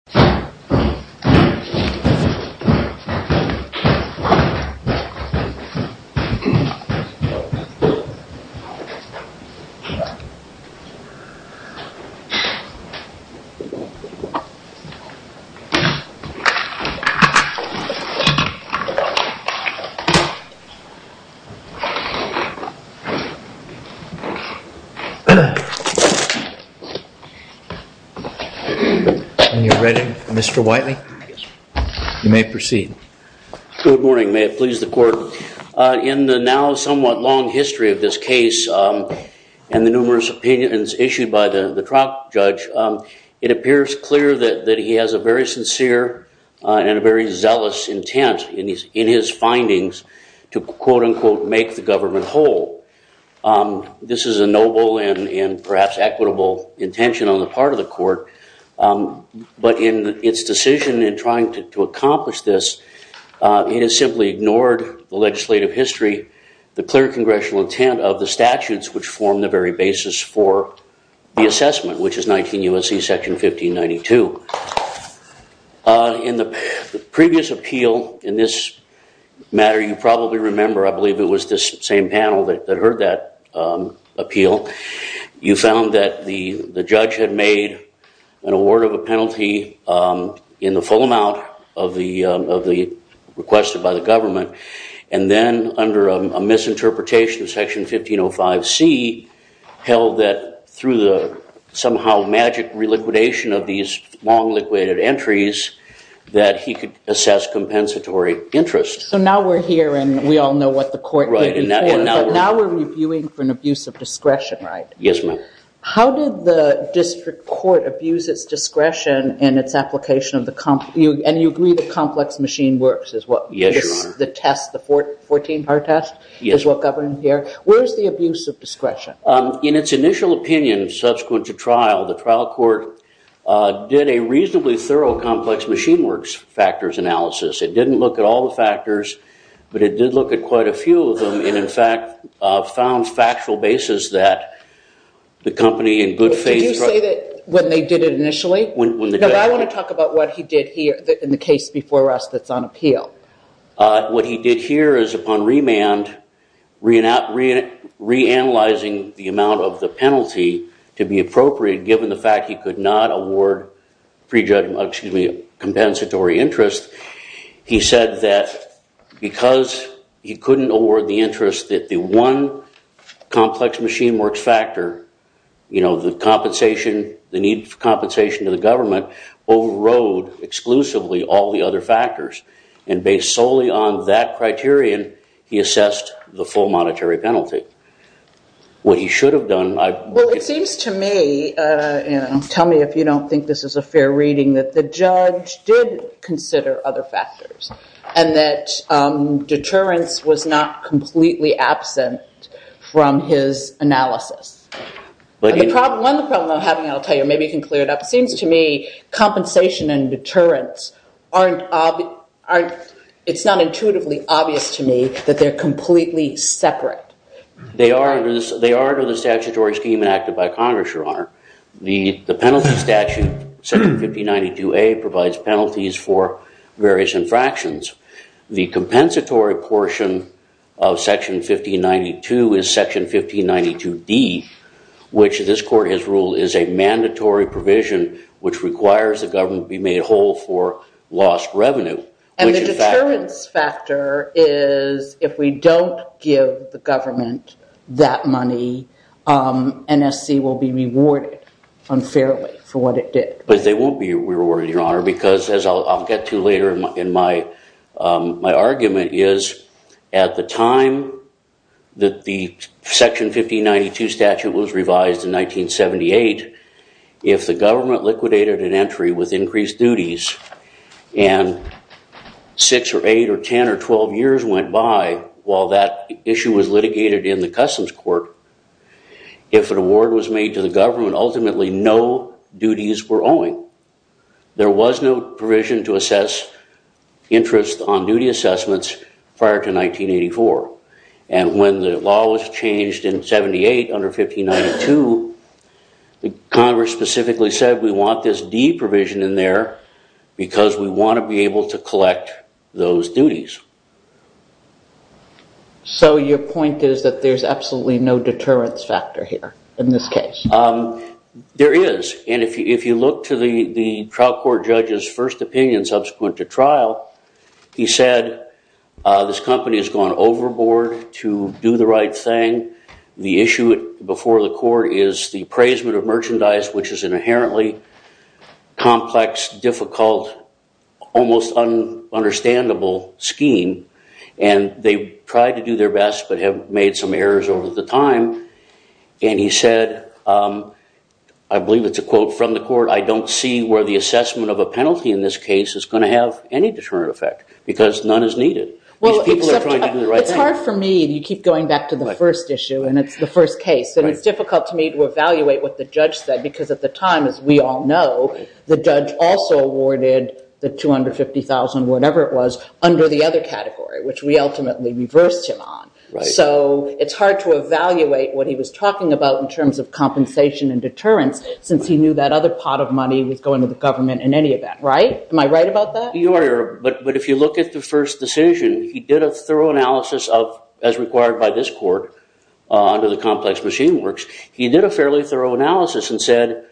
Step 1. Step 2. Step 7. Step 8. Step 9. Step 10. Step 11. Step 12. Step 13. Step 14. Step 15. Step 16. Step 17. Step 18. But in its decision in trying to accomplish this, it has simply ignored the legislative history, the clear congressional intent of the statutes which form the very basis for the assessment, which is 19 U.S.C. Section 1592. In the previous appeal in this matter, you probably remember, I believe it was this same panel that heard that appeal, you found that the judge had made an award of a penalty in the full amount of the requested by the government. And then under a misinterpretation, Section 1505C held that through the somehow magic reliquidation of these long-liquidated entries that he could assess compensatory interest. So now we're here, and we all know what the court did. Now we're reviewing for an abuse of discretion, right? Yes, ma'am. How did the district court abuse its discretion in its application of the complex machine works as what the test, the 14-part test, is what governed here? Where is the abuse of discretion? In its initial opinion subsequent to trial, the trial court did a reasonably thorough complex machine works factors analysis. It didn't look at all the factors, but it did look at quite a few of them, and, in fact, found factual basis that the company in good faith. Did you say that when they did it initially? When the judge did it. No, I want to talk about what he did here in the case before us that's on appeal. What he did here is, upon re-analyzing the amount of the penalty to be appropriate, given the fact he could not award compensatory interest, he said that because he couldn't award the interest that the one complex machine works factor, the compensation, the need for compensation to the government, overrode exclusively all the other factors. And based solely on that criterion, he assessed the full monetary penalty. What he should have done, I believe. Well, it seems to me, tell me if you don't think this is a fair reading, that the judge did consider other factors, and that deterrence was not completely absent from his analysis. One of the problems I'm having, I'll tell you, maybe you can clear it up. It seems to me, compensation and deterrence, it's not intuitively obvious to me that they're completely separate. They are under the statutory scheme enacted by Congress, Your Honor. The penalty statute, Section 5092A, provides penalties for various infractions. The compensatory portion of Section 1592 is Section 1592D, which this court has ruled is a mandatory provision, which requires the government be made whole for lost revenue. And the deterrence factor is, if we don't give the government that money, NSC will be rewarded unfairly for what it did. But they won't be rewarded, Your Honor, because, as I'll get to later in my argument, is at the time that the Section 1592 statute was revised in 1978, if the government liquidated an entry with increased duties, and six or eight or 10 or 12 years went by while that issue was litigated in the Customs Court, if an award was made to the government, ultimately no duties were owing, there was no provision to assess interest on duty assessments prior to 1984. And when the law was changed in 78 under 1592, Congress specifically said, we want this D provision in there because we want to be able to collect those duties. So your point is that there's absolutely no deterrence factor here in this case. There is. And if you look to the trial court judge's first opinion subsequent to trial, he said, this company has gone overboard to do the right thing. The issue before the court is the appraisement of merchandise, which is an inherently complex, difficult, almost understandable scheme. And they've tried to do their best, but have made some errors over the time. And he said, I believe it's a quote from the court, I don't see where the assessment of a penalty in this case is going to have any deterrent effect, because none is needed. These people are trying to do the right thing. It's hard for me, you keep going back to the first issue, and it's the first case. And it's difficult to me to evaluate what the judge said, because at the time, as we all know, the judge also awarded the $250,000, whatever it was, under the other category, which we ultimately reversed him on. So it's hard to evaluate what he was talking about in terms of compensation and deterrence, since he knew that other pot of money was going to the government in any event, right? Am I right about that? You are, but if you look at the first decision, he did a thorough analysis of, as required by this court, under the complex machine works, he did a fairly thorough analysis and said,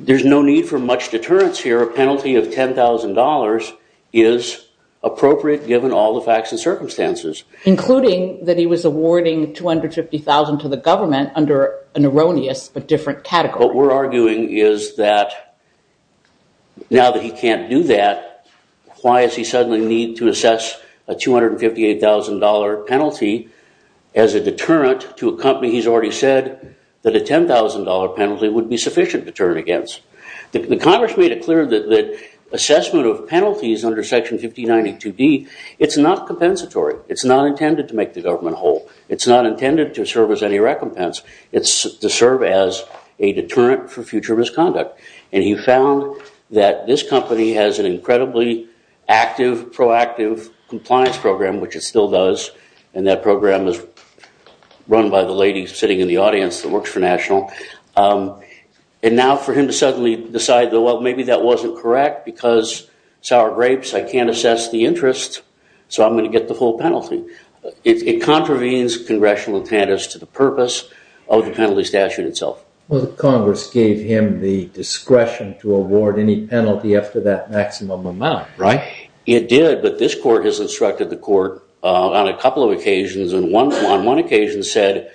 there's no need for much deterrence here. A penalty of $10,000 is appropriate, given all the facts and circumstances. Including that he was awarding $250,000 to the government under an erroneous but different category. What we're arguing is that, now that he can't do that, why does he suddenly need to assess a $258,000 penalty as a deterrent to a company he's already said that a $10,000 penalty would The Congress made it clear that assessment of penalties under Section 1592D, it's not compensatory. It's not intended to make the government whole. It's not intended to serve as any recompense. It's to serve as a deterrent for future misconduct. And he found that this company has an incredibly active, proactive compliance program, which it still does. And that program is run by the lady sitting in the audience that works for National. And now for him to suddenly decide, well, maybe that wasn't correct, because sour grapes, I can't assess the interest, so I'm going to get the full penalty. It contravenes congressional attendance to the purpose of the penalty statute itself. Well, the Congress gave him the discretion to award any penalty after that maximum amount, right? It did, but this court has instructed the court on a couple of occasions. And on one occasion said,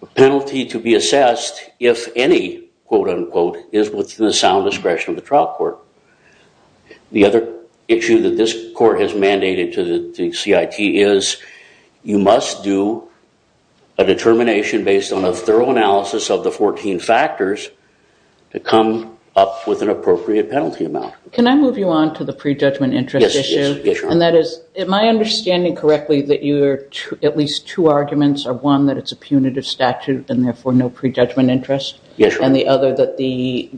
a penalty to be assessed if any, quote unquote, is within the sound discretion of the trial court. The other issue that this court has mandated to the CIT is you must do a determination based on a thorough analysis of the 14 factors to come up with an appropriate penalty amount. Can I move you on to the prejudgment interest issue? And that is, am I understanding correctly that at least two arguments are, one, that it's a punitive statute and therefore no prejudgment interest, and the other, that the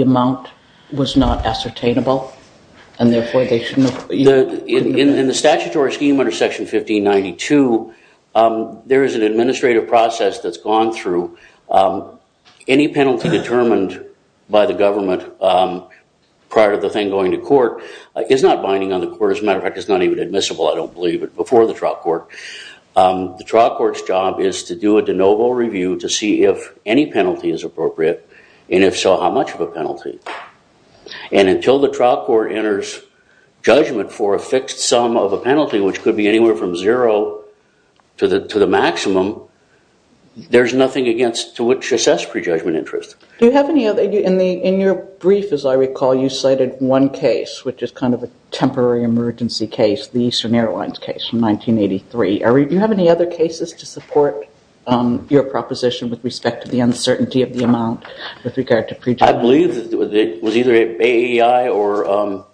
amount was not ascertainable, and therefore they shouldn't have? In the statutory scheme under section 1592, there is an administrative process that's gone through. Any penalty determined by the government prior to the thing going to court is not binding on the court. As a matter of fact, it's not even admissible, I don't believe it, before the trial court. The trial court's job is to do a de novo review to see if any penalty is appropriate, and if so, how much of a penalty. And until the trial court enters judgment for a fixed sum of a penalty, which could be anywhere from zero to the maximum, there's nothing to which to assess prejudgment interest. Do you have any other? In your brief, as I recall, you cited one case, which is kind of a temporary emergency case, the Eastern Airlines case from 1983. Do you have any other cases to support your proposition with respect to the uncertainty of the amount with regard to prejudgment? I believe it was either AEI or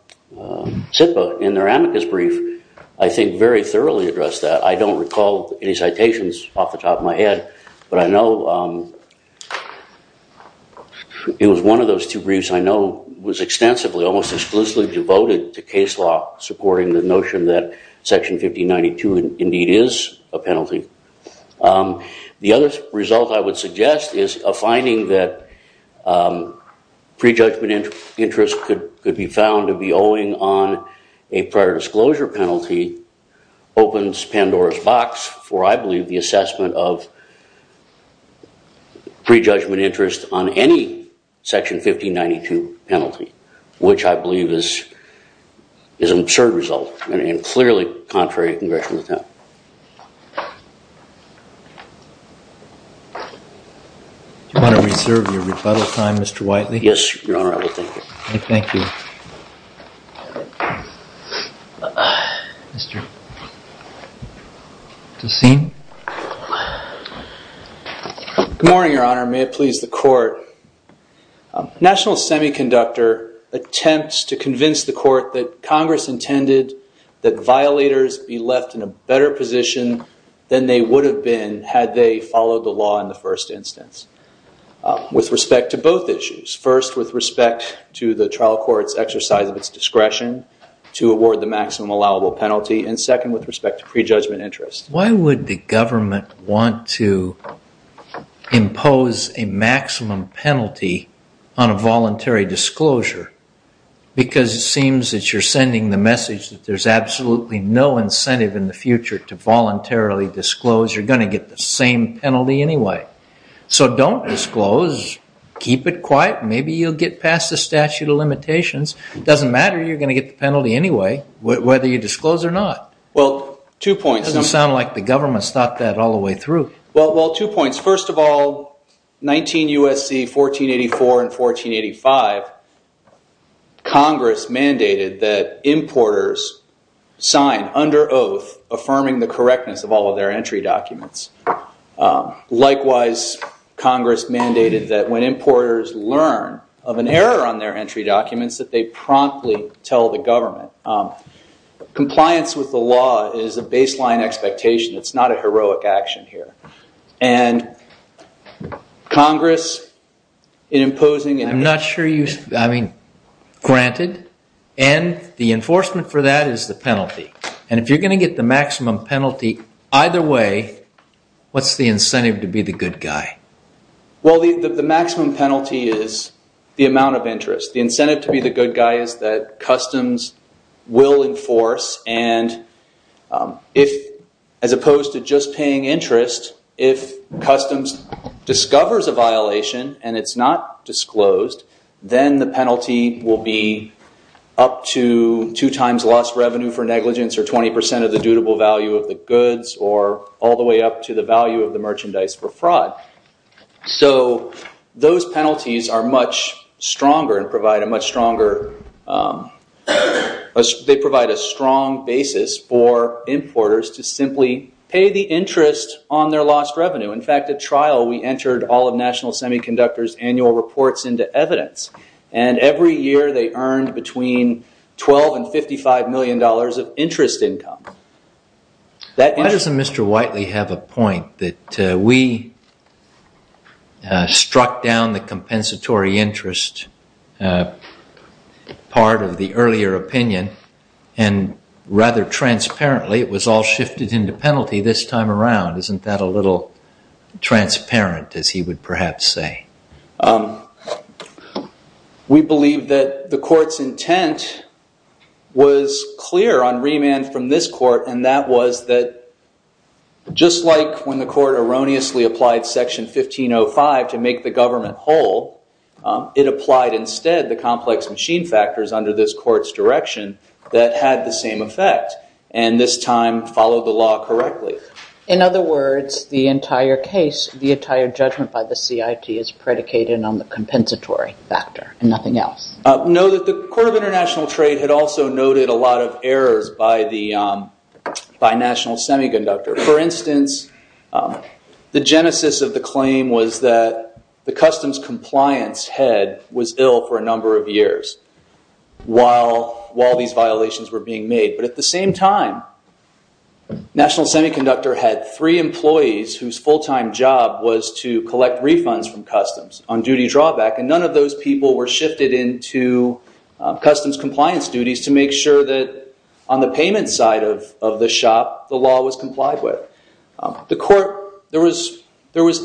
SIPA in their amicus brief, I think, very thoroughly addressed that. I don't recall any citations off the top of my head, but I know it was one of those two briefs I know was extensively, almost exclusively, devoted to case law, supporting the notion that section 1592 indeed is a penalty. The other result I would suggest is a finding that prejudgment interest could be found to be owing on a prior disclosure penalty opens Pandora's box for, I believe, the assessment of prejudgment interest on any section 1592 penalty, which I believe is an absurd result and clearly contrary to Congressional intent. Do you want to reserve your rebuttal time, Mr. Whiteley? Yes, Your Honor, I will. Thank you. Thank you. Mr. Tussine? Good morning, Your Honor. May it please the court. A national semiconductor attempts to convince the court that Congress intended that violators be left in a better position than they would have been had they followed the law in the first instance. With respect to both issues, first with respect to the trial court's exercise of its discretion to award the maximum allowable penalty, and second with respect to prejudgment interest. Why would the government want to impose a maximum penalty on a voluntary disclosure? Because it seems that you're sending the message that there's absolutely no incentive in the future to voluntarily disclose. You're going to get the same penalty anyway. So don't disclose. Keep it quiet. Maybe you'll get past the statute of limitations. It doesn't matter. You're going to get the penalty anyway, whether you disclose or not. Well, two points. It doesn't sound like the government's thought that all the way through. Well, two points. First of all, 19 U.S.C. 1484 and 1485, Congress mandated that importers sign under oath affirming the correctness of all of their entry documents. Likewise, Congress mandated that when importers learn of an error on their entry documents that they promptly tell the government. Compliance with the law is a baseline expectation. It's not a heroic action here. And Congress, in imposing and having granted, and the enforcement for that is the penalty. And if you're going to get the maximum penalty either way, what's the incentive to be the good guy? Well, the maximum penalty is the amount of interest. The incentive to be the good guy is that customs will enforce. And as opposed to just paying interest, if customs discovers a violation and it's not disclosed, then the penalty will be up to two times lost revenue for negligence, or 20% of the dutable value of the goods, or all the way up to the value of the merchandise for fraud. So those penalties are much stronger and provide a much stronger, they provide a strong basis for importers to simply pay the interest on their lost revenue. In fact, at trial, we entered all of National Semiconductor's annual reports into evidence. And every year, they earned between $12 and $55 million of interest income. Why doesn't Mr. Whiteley have a point that we struck down the compensatory interest part of the earlier opinion, and rather transparently, it was all shifted into penalty this time around? Isn't that a little transparent, as he would perhaps say? We believe that the court's intent was clear on remand from this court, and that was that just like when the court erroneously applied section 1505 to make the government whole, it applied instead the complex machine factors under this court's direction that had the same effect, and this time followed the law correctly. In other words, the entire case, the entire judgment by the CIT is predicated on the compensatory factor, and nothing else? No, the Court of International Trade had also noted a lot of errors by National Semiconductor. For instance, the genesis of the claim was that the customs compliance head was ill for a number of years while these violations were being made, but at the same time, National Semiconductor had three employees whose full-time job was to collect refunds from customs on duty drawback, and none of those people were shifted into customs compliance duties to make sure that on the payment side of the shop, the law was complied with. The court, there was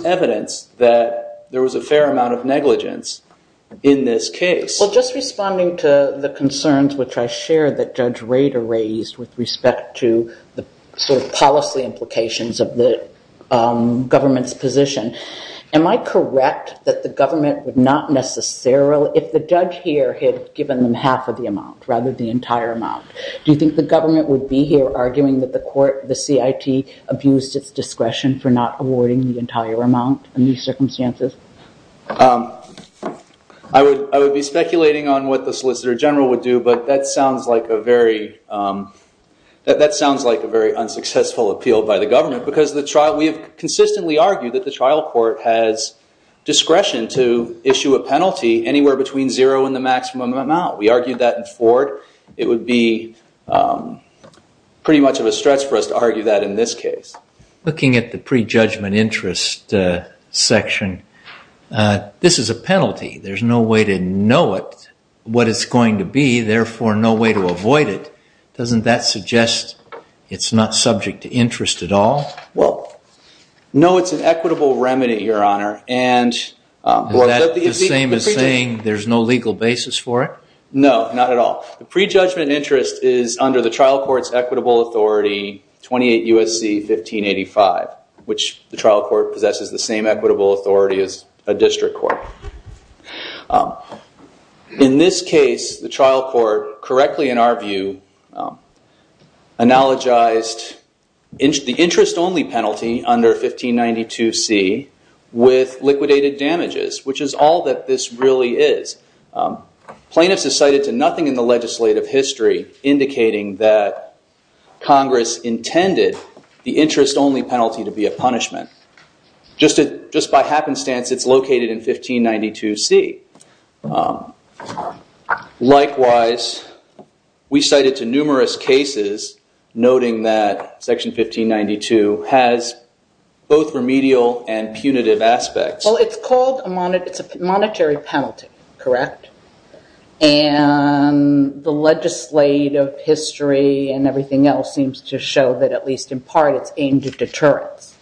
evidence that there was a fair amount of negligence in this case. Well, just responding to the concerns which I shared that Judge Rader raised with respect to the policy implications of the government's position, am I correct that the government would not necessarily, if the judge here had given them half of the amount rather than the entire amount, do you think the government would be here arguing that the court, the CIT, abused its discretion for not awarding the entire amount in these circumstances? I would be speculating on what the Solicitor General would do, but that sounds like a very unsuccessful appeal by the government, because we have consistently argued that the trial court has discretion to issue a penalty anywhere between zero and the maximum amount. We argued that in Ford. It would be pretty much of a stretch for us to argue that in this case. Looking at the prejudgment interest section, this is a penalty. There's no way to know it, what it's going to be, therefore no way to avoid it. Doesn't that suggest it's not subject to interest at all? Well, no, it's an equitable remedy, Your Honor. And is that the same as saying there's no legal basis for it? No, not at all. The prejudgment interest is under the trial court's equitable authority, 28 U.S.C. 1585, which the trial court possesses the same equitable authority as a district court. In this case, the trial court, correctly in our view, analogized the interest-only penalty under 1592C with liquidated damages, which is all that this really is. Plaintiffs are cited to nothing in the legislative history indicating that Congress intended the interest-only penalty to be a punishment. Just by happenstance, it's located in 1592C. Likewise, we cited to numerous cases noting that Section 1592 has both remedial and punitive aspects. Well, it's called a monetary penalty, correct? And the legislative history and everything else seems to show that, at least in part, it's aimed at deterrence.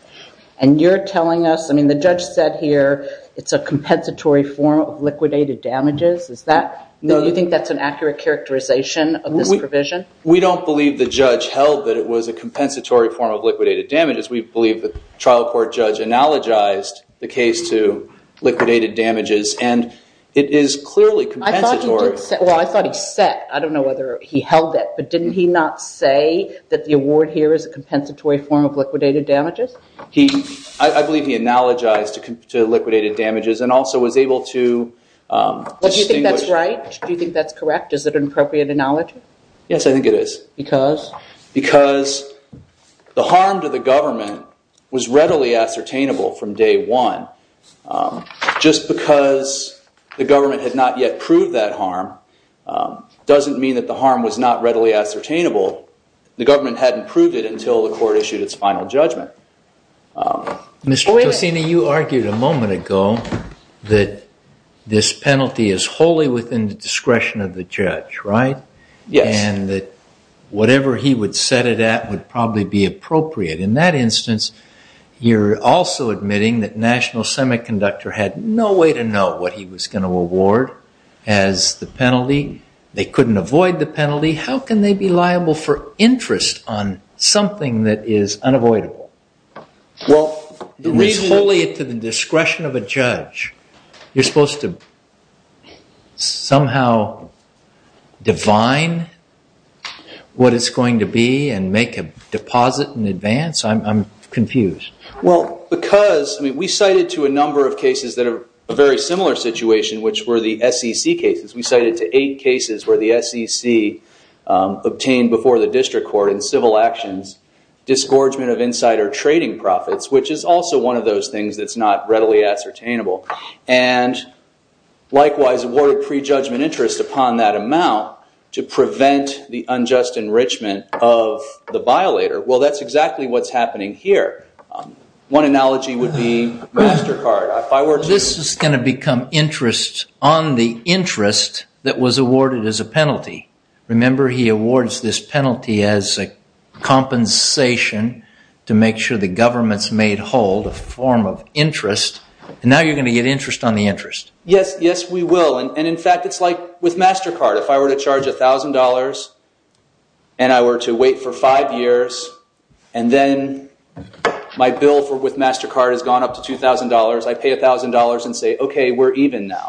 And you're telling us, I mean, the judge said here it's a compensatory form of liquidated damages. Is that, do you think that's an accurate characterization of this provision? We don't believe the judge held that it was a compensatory form of liquidated damages. We believe the trial court judge analogized the case to liquidated damages. And it is clearly compensatory. Well, I thought he said. I don't know whether he held that. But didn't he not say that the award here is a compensatory form of liquidated damages? I believe he analogized to liquidated damages and also was able to distinguish. Well, do you think that's right? Do you think that's correct? Yes, I think it is. Because? Because the harm to the government was readily ascertainable from day one. Just because the government had not yet proved that harm doesn't mean that the harm was not readily ascertainable. The government hadn't proved it until the court issued its final judgment. Mr. Tosini, you argued a moment ago that this penalty is wholly within the discretion of the judge, right? Yes. And that whatever he would set it at would probably be appropriate. In that instance, you're also admitting that National Semiconductor had no way to know what he was going to award as the penalty. They couldn't avoid the penalty. How can they be liable for interest on something that is unavoidable? Well, the reason that. It is wholly to the discretion of a judge. You're supposed to somehow divine what it's going to be and make a deposit in advance. I'm confused. Well, because we cited to a number of cases that are a very similar situation, which were the SEC cases. We cited to eight cases where the SEC obtained before the district court in civil actions disgorgement of insider trading profits, which is also one of those things that's not readily ascertainable. And likewise, awarded prejudgment interest upon that amount to prevent the unjust enrichment of the violator. Well, that's exactly what's happening here. One analogy would be MasterCard. This is going to become interest on the interest that was awarded as a penalty. Remember, he awards this penalty as a compensation to make sure the government's made hold a form of interest. And now you're going to get interest on the interest. Yes, yes, we will. And in fact, it's like with MasterCard. If I were to charge $1,000, and I were to wait for five years, and then my bill with MasterCard has gone up to $2,000, I pay $1,000 and say, OK, we're even now.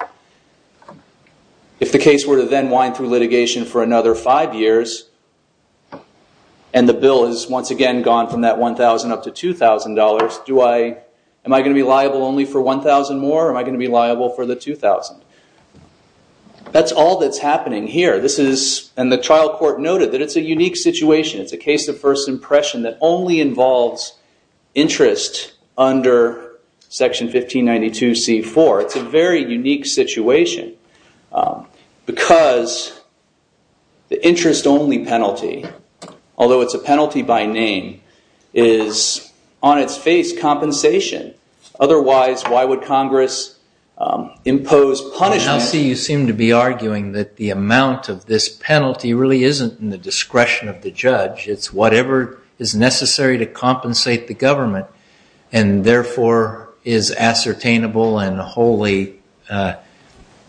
If the case were to then wind through litigation for another five years, and the bill has once again gone from that $1,000 up to $2,000, am I going to be liable only for $1,000 more, or am I going to be liable only for $2,000? That's all that's happening here. And the trial court noted that it's a unique situation. It's a case of first impression that only involves interest under Section 1592C4. It's a very unique situation, because the interest only penalty, although it's a penalty by name, is on its face compensation. Otherwise, why would Congress impose punishment? Now, see, you seem to be arguing that the amount of this penalty really isn't in the discretion of the judge. It's whatever is necessary to compensate the government, and therefore is ascertainable and wholly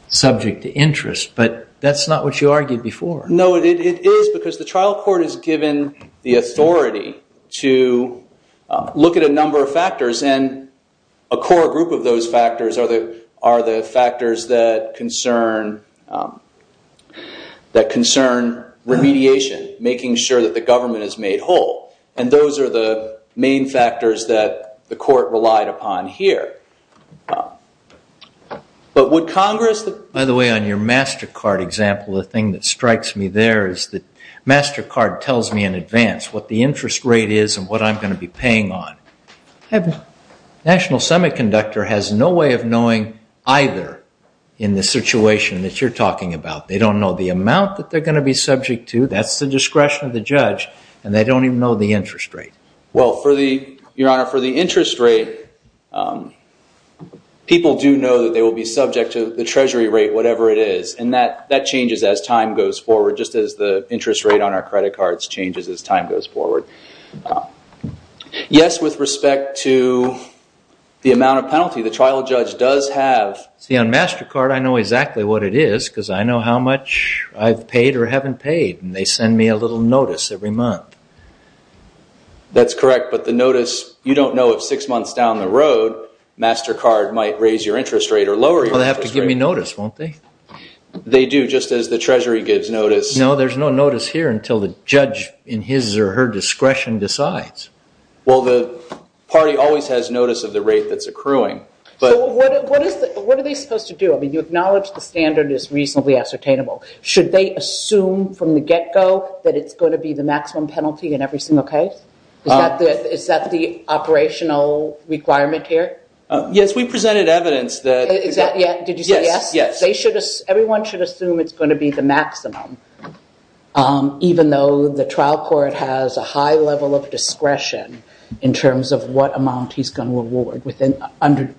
subject to interest. But that's not what you argued before. No, it is, because the trial court is given the authority to look at a number of factors. And a core group of those factors are the factors that concern remediation, making sure that the government is made whole. And those are the main factors that the court relied upon here. But would Congress? By the way, on your MasterCard example, the thing that strikes me there is that MasterCard tells me in advance what the interest rate is and what I'm going to be paying on. The National Semiconductor has no way of knowing either in the situation that you're talking about. They don't know the amount that they're going to be subject to. That's the discretion of the judge. And they don't even know the interest rate. Well, for the interest rate, people do know that they will be subject to the Treasury rate, whatever it is. And that changes as time goes forward, just as the interest rate on our credit cards changes as time goes forward. Yes, with respect to the amount of penalty, the trial judge does have. See, on MasterCard, I know exactly what it is, because I know how much I've paid or haven't paid. And they send me a little notice every month. That's correct. But the notice, you don't know if six months down the road, MasterCard might raise your interest rate or lower your interest rate. Well, they have to give me notice, won't they? They do, just as the Treasury gives notice. No, there's no notice here until the judge in his or her discretion decides. Well, the party always has notice of the rate that's accruing. So what are they supposed to do? I mean, you acknowledge the standard is reasonably ascertainable. Should they assume from the get-go that it's going to be the maximum penalty in every single case? Is that the operational requirement here? Yes, we presented evidence that it's going to be. Did you say yes? Yes. Everyone should assume it's going to be the maximum, even though the trial court has a high level of discretion in terms of what amount he's going to award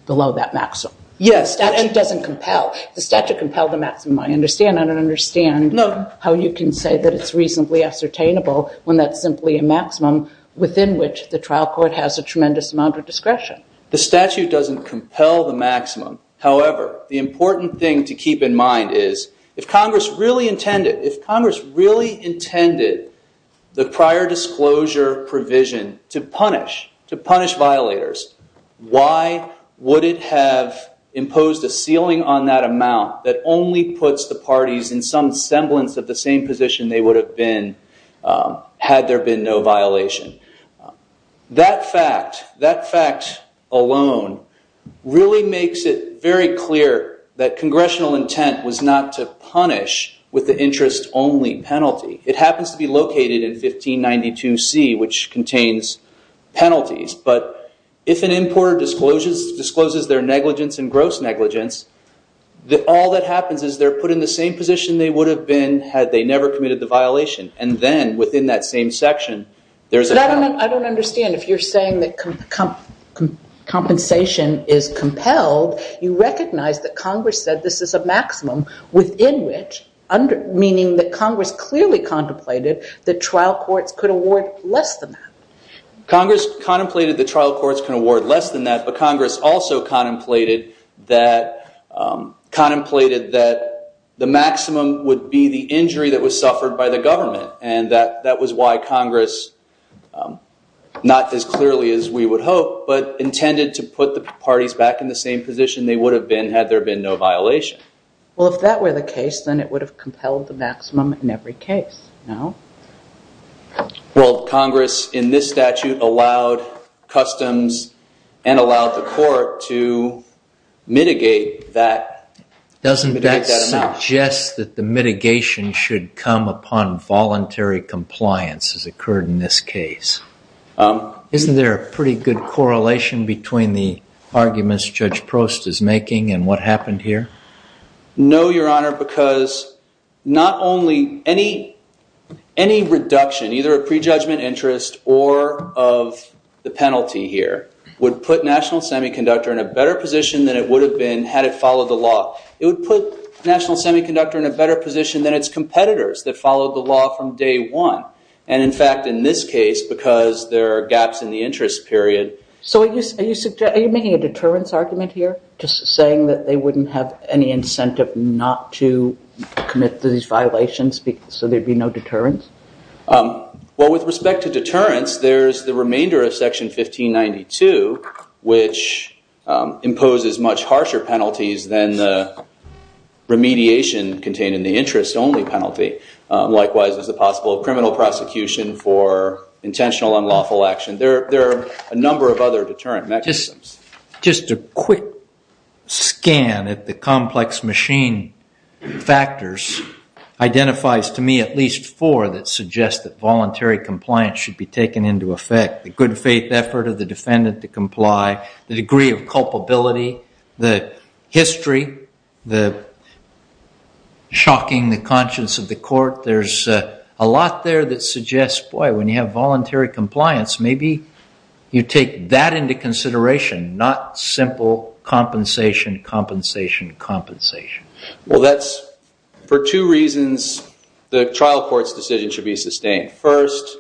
below that maximum. Yes. And it doesn't compel. The statute compels the maximum, I understand. I don't understand how you can say that it's reasonably ascertainable when that's simply a maximum within which the trial court has a tremendous amount of discretion. The statute doesn't compel the maximum. However, the important thing to keep in mind is if Congress really intended, if Congress really intended the prior disclosure provision to punish, to punish violators, why would it have imposed a ceiling on that amount that only puts the parties in some semblance of the same position they would have been had there been no violation? That fact, that fact alone, really makes it very clear that congressional intent was not to punish with the interest only penalty. It happens to be located in 1592C, which contains penalties. But if an importer discloses their negligence and gross negligence, all that happens is they're put in the same position they would have been had they never committed the violation. And then within that same section, there's a penalty. I don't understand. If you're saying that compensation is compelled, you recognize that Congress said this is a maximum within which, meaning that Congress clearly contemplated that trial courts could award less than that. Congress contemplated the trial courts can award less than that. But Congress also contemplated that the maximum would be the injury that was suffered by the government. And that was why Congress, not as clearly as we would hope, but intended to put the parties back in the same position they would have been had there been no violation. Well, if that were the case, then it would have compelled the maximum in every case, no? Well, Congress, in this statute, allowed customs and allowed the court to mitigate that amount. Doesn't that suggest that the mitigation should come upon voluntary compliance, as occurred in this case? Isn't there a pretty good correlation between the arguments Judge Prost is making and what happened here? No, Your Honor, because not only any reduction, either of prejudgment, interest, or of the penalty here, would put National Semiconductor in a better position than it would have been had it followed the law. It would put National Semiconductor in a better position than its competitors that followed the law from day one. And in fact, in this case, because there are gaps in the interest period. So are you making a deterrence argument here? Just saying that they wouldn't have any incentive not to commit to these violations so there'd be no deterrence? Well, with respect to deterrence, there's the remainder of Section 1592, which imposes much harsher penalties than the remediation contained in the interest-only penalty. Likewise, there's the possible criminal prosecution for intentional unlawful action. There are a number of other deterrent mechanisms. Just a quick scan at the complex machine factors identifies, to me, at least four that suggest that voluntary compliance should be taken into effect. The good faith effort of the defendant to comply, the degree of culpability, the history, the shocking the conscience of the court. There's a lot there that suggests, boy, when you have voluntary compliance, maybe you take that into consideration, not simple compensation, compensation, compensation. Well, that's for two reasons. The trial court's decision should be sustained. First,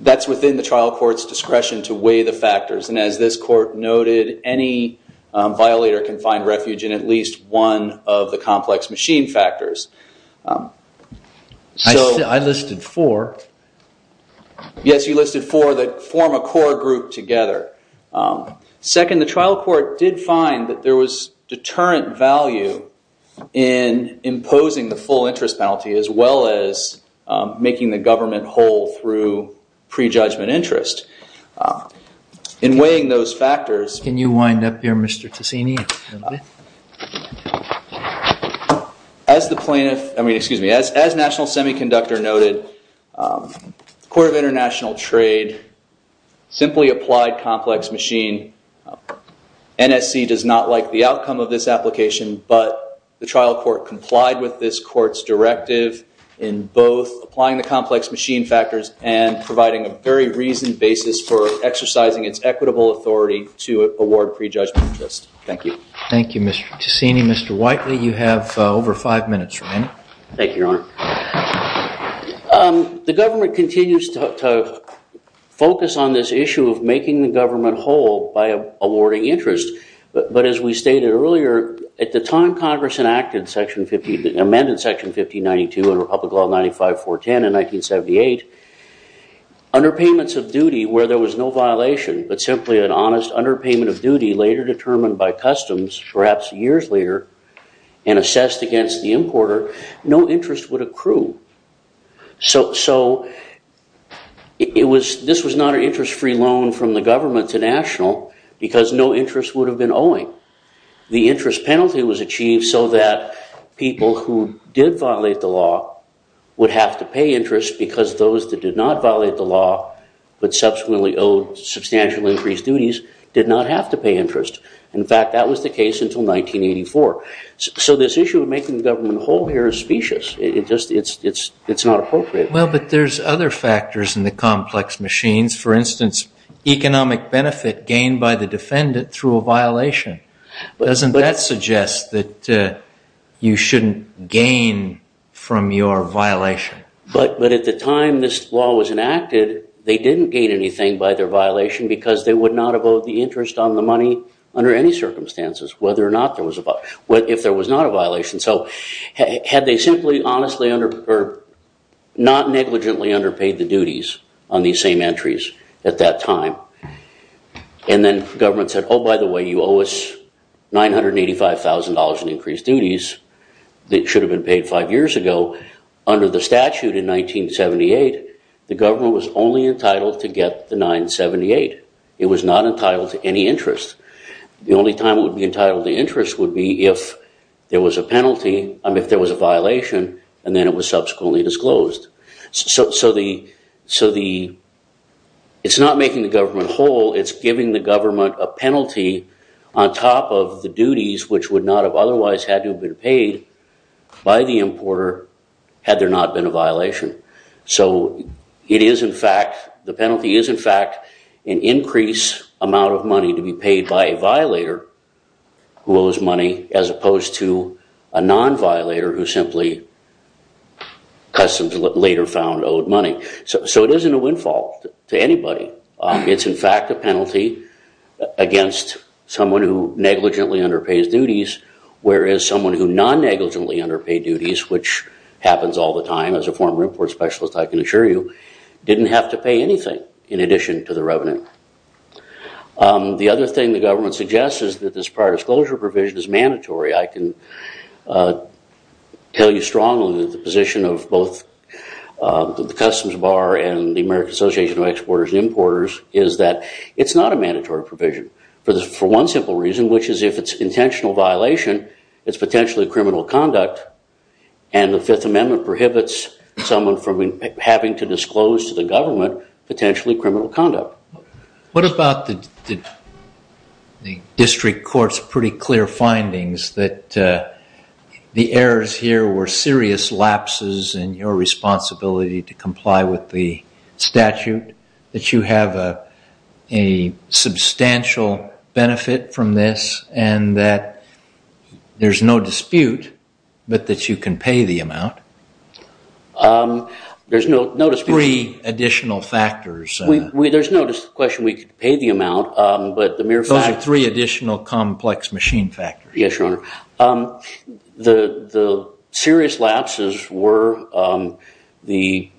that's within the trial court's discretion to weigh the factors. And as this court noted, any violator can find refuge in at least one of the complex machine factors. So I listed four. Yes, you listed four that form a core group together. Second, the trial court did find that there was deterrent value in imposing the full interest penalty, as well as making the government whole through prejudgment interest. In weighing those factors. Can you wind up here, Mr. Ticini? As the plaintiff, I mean, excuse me, as National Semiconductor noted, the Court of International Trade simply applied complex machine. NSC does not like the outcome of this application, but the trial court complied with this court's directive in both applying the complex machine factors and providing a very reasoned basis for exercising its equitable authority to award prejudgment interest. Thank you. Thank you, Mr. Ticini. Mr. Whiteley, you have over five minutes remaining. Thank you, Your Honor. The government continues to focus on this issue of making the government whole by awarding interest. But as we stated earlier, at the time Congress enacted Section 50, amended Section 1592 and Republic Law 95-410 in 1978, underpayments of duty where there was no violation, but simply an honest underpayment of duty later determined by customs, perhaps years later, and assessed against the importer, no interest would accrue. So this was not an interest-free loan from the government to National because no interest would have been owing. The interest penalty was achieved so that people who did violate the law would have to pay interest because those that did not violate the law, but subsequently owed substantially increased duties, did not have to pay interest. In fact, that was the case until 1984. So this issue of making the government whole here is specious. It's just not appropriate. Well, but there's other factors in the complex machines. For instance, economic benefit gained by the defendant through a violation. Doesn't that suggest that you shouldn't gain from your violation? But at the time this law was enacted, they didn't gain anything by their violation because they would not have owed the interest on the money under any circumstances if there was not a violation. So had they simply, honestly, or not negligently underpaid the duties on these same entries at that time, and then government said, oh, by the way, you owe us $985,000 in increased duties that should have been paid five years ago, under the statute in 1978, the government was only entitled to get the $978,000. It was not entitled to any interest. The only time it would be entitled to interest would be if there was a penalty, if there was a violation, and then it was subsequently disclosed. So it's not making the government whole. It's giving the government a penalty on top of the duties which would not have otherwise had to have been paid by the importer had there not been a violation. So the penalty is, in fact, an increased amount of money to be paid by a violator who owes money as opposed to a non-violator who simply, customs later found, owed money. So it isn't a windfall to anybody. It's, in fact, a penalty against someone who negligently underpays duties, whereas someone who non-negligently underpaid duties, which happens all the time as a former import specialist, I can assure you, didn't have to pay anything in addition to the revenue. The other thing the government suggests is that this prior disclosure provision is mandatory. I can tell you strongly that the position of both the Customs Bar and the American Association of Exporters and Importers is that it's not a mandatory provision for one simple reason, which is if it's intentional violation, it's potentially criminal conduct. And the Fifth Amendment prohibits someone from having to disclose to the government potentially criminal conduct. What about the district court's pretty clear findings that the errors here were serious lapses in your responsibility to comply with the statute, that you have a substantial benefit from this, and that there's no dispute, but that you can pay the amount? There's no dispute. Three additional factors. There's no question we could pay the amount, but the mere fact that. Those are three additional complex machine factors. Yes, Your Honor. The serious lapses were the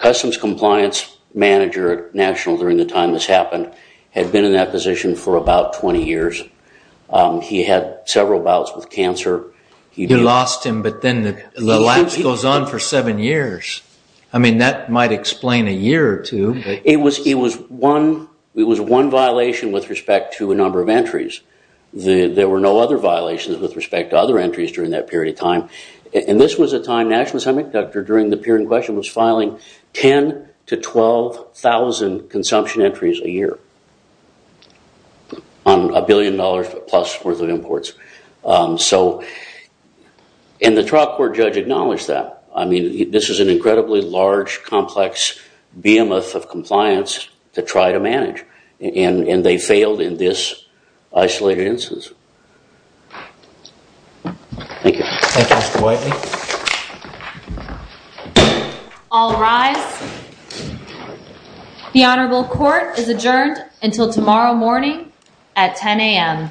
Customs Compliance Manager National during the time this happened had been in that position for about 20 years. He had several bouts with cancer. You lost him, but then the lapse goes on for seven years. I mean, that might explain a year or two. It was one violation with respect to a number of entries. There were no other violations with respect to other entries during that period of time. And this was a time National Assembly conductor during the period in question was filing 10,000 to 12,000 consumption entries a year on a billion dollars plus worth of imports. So and the trial court judge acknowledged that. I mean, this is an incredibly large, complex behemoth of compliance to try to manage, and they failed in this isolated instance. Thank you. Thank you, Mr. Whiteley. All rise. The Honorable Court is adjourned until tomorrow morning at 10 AM.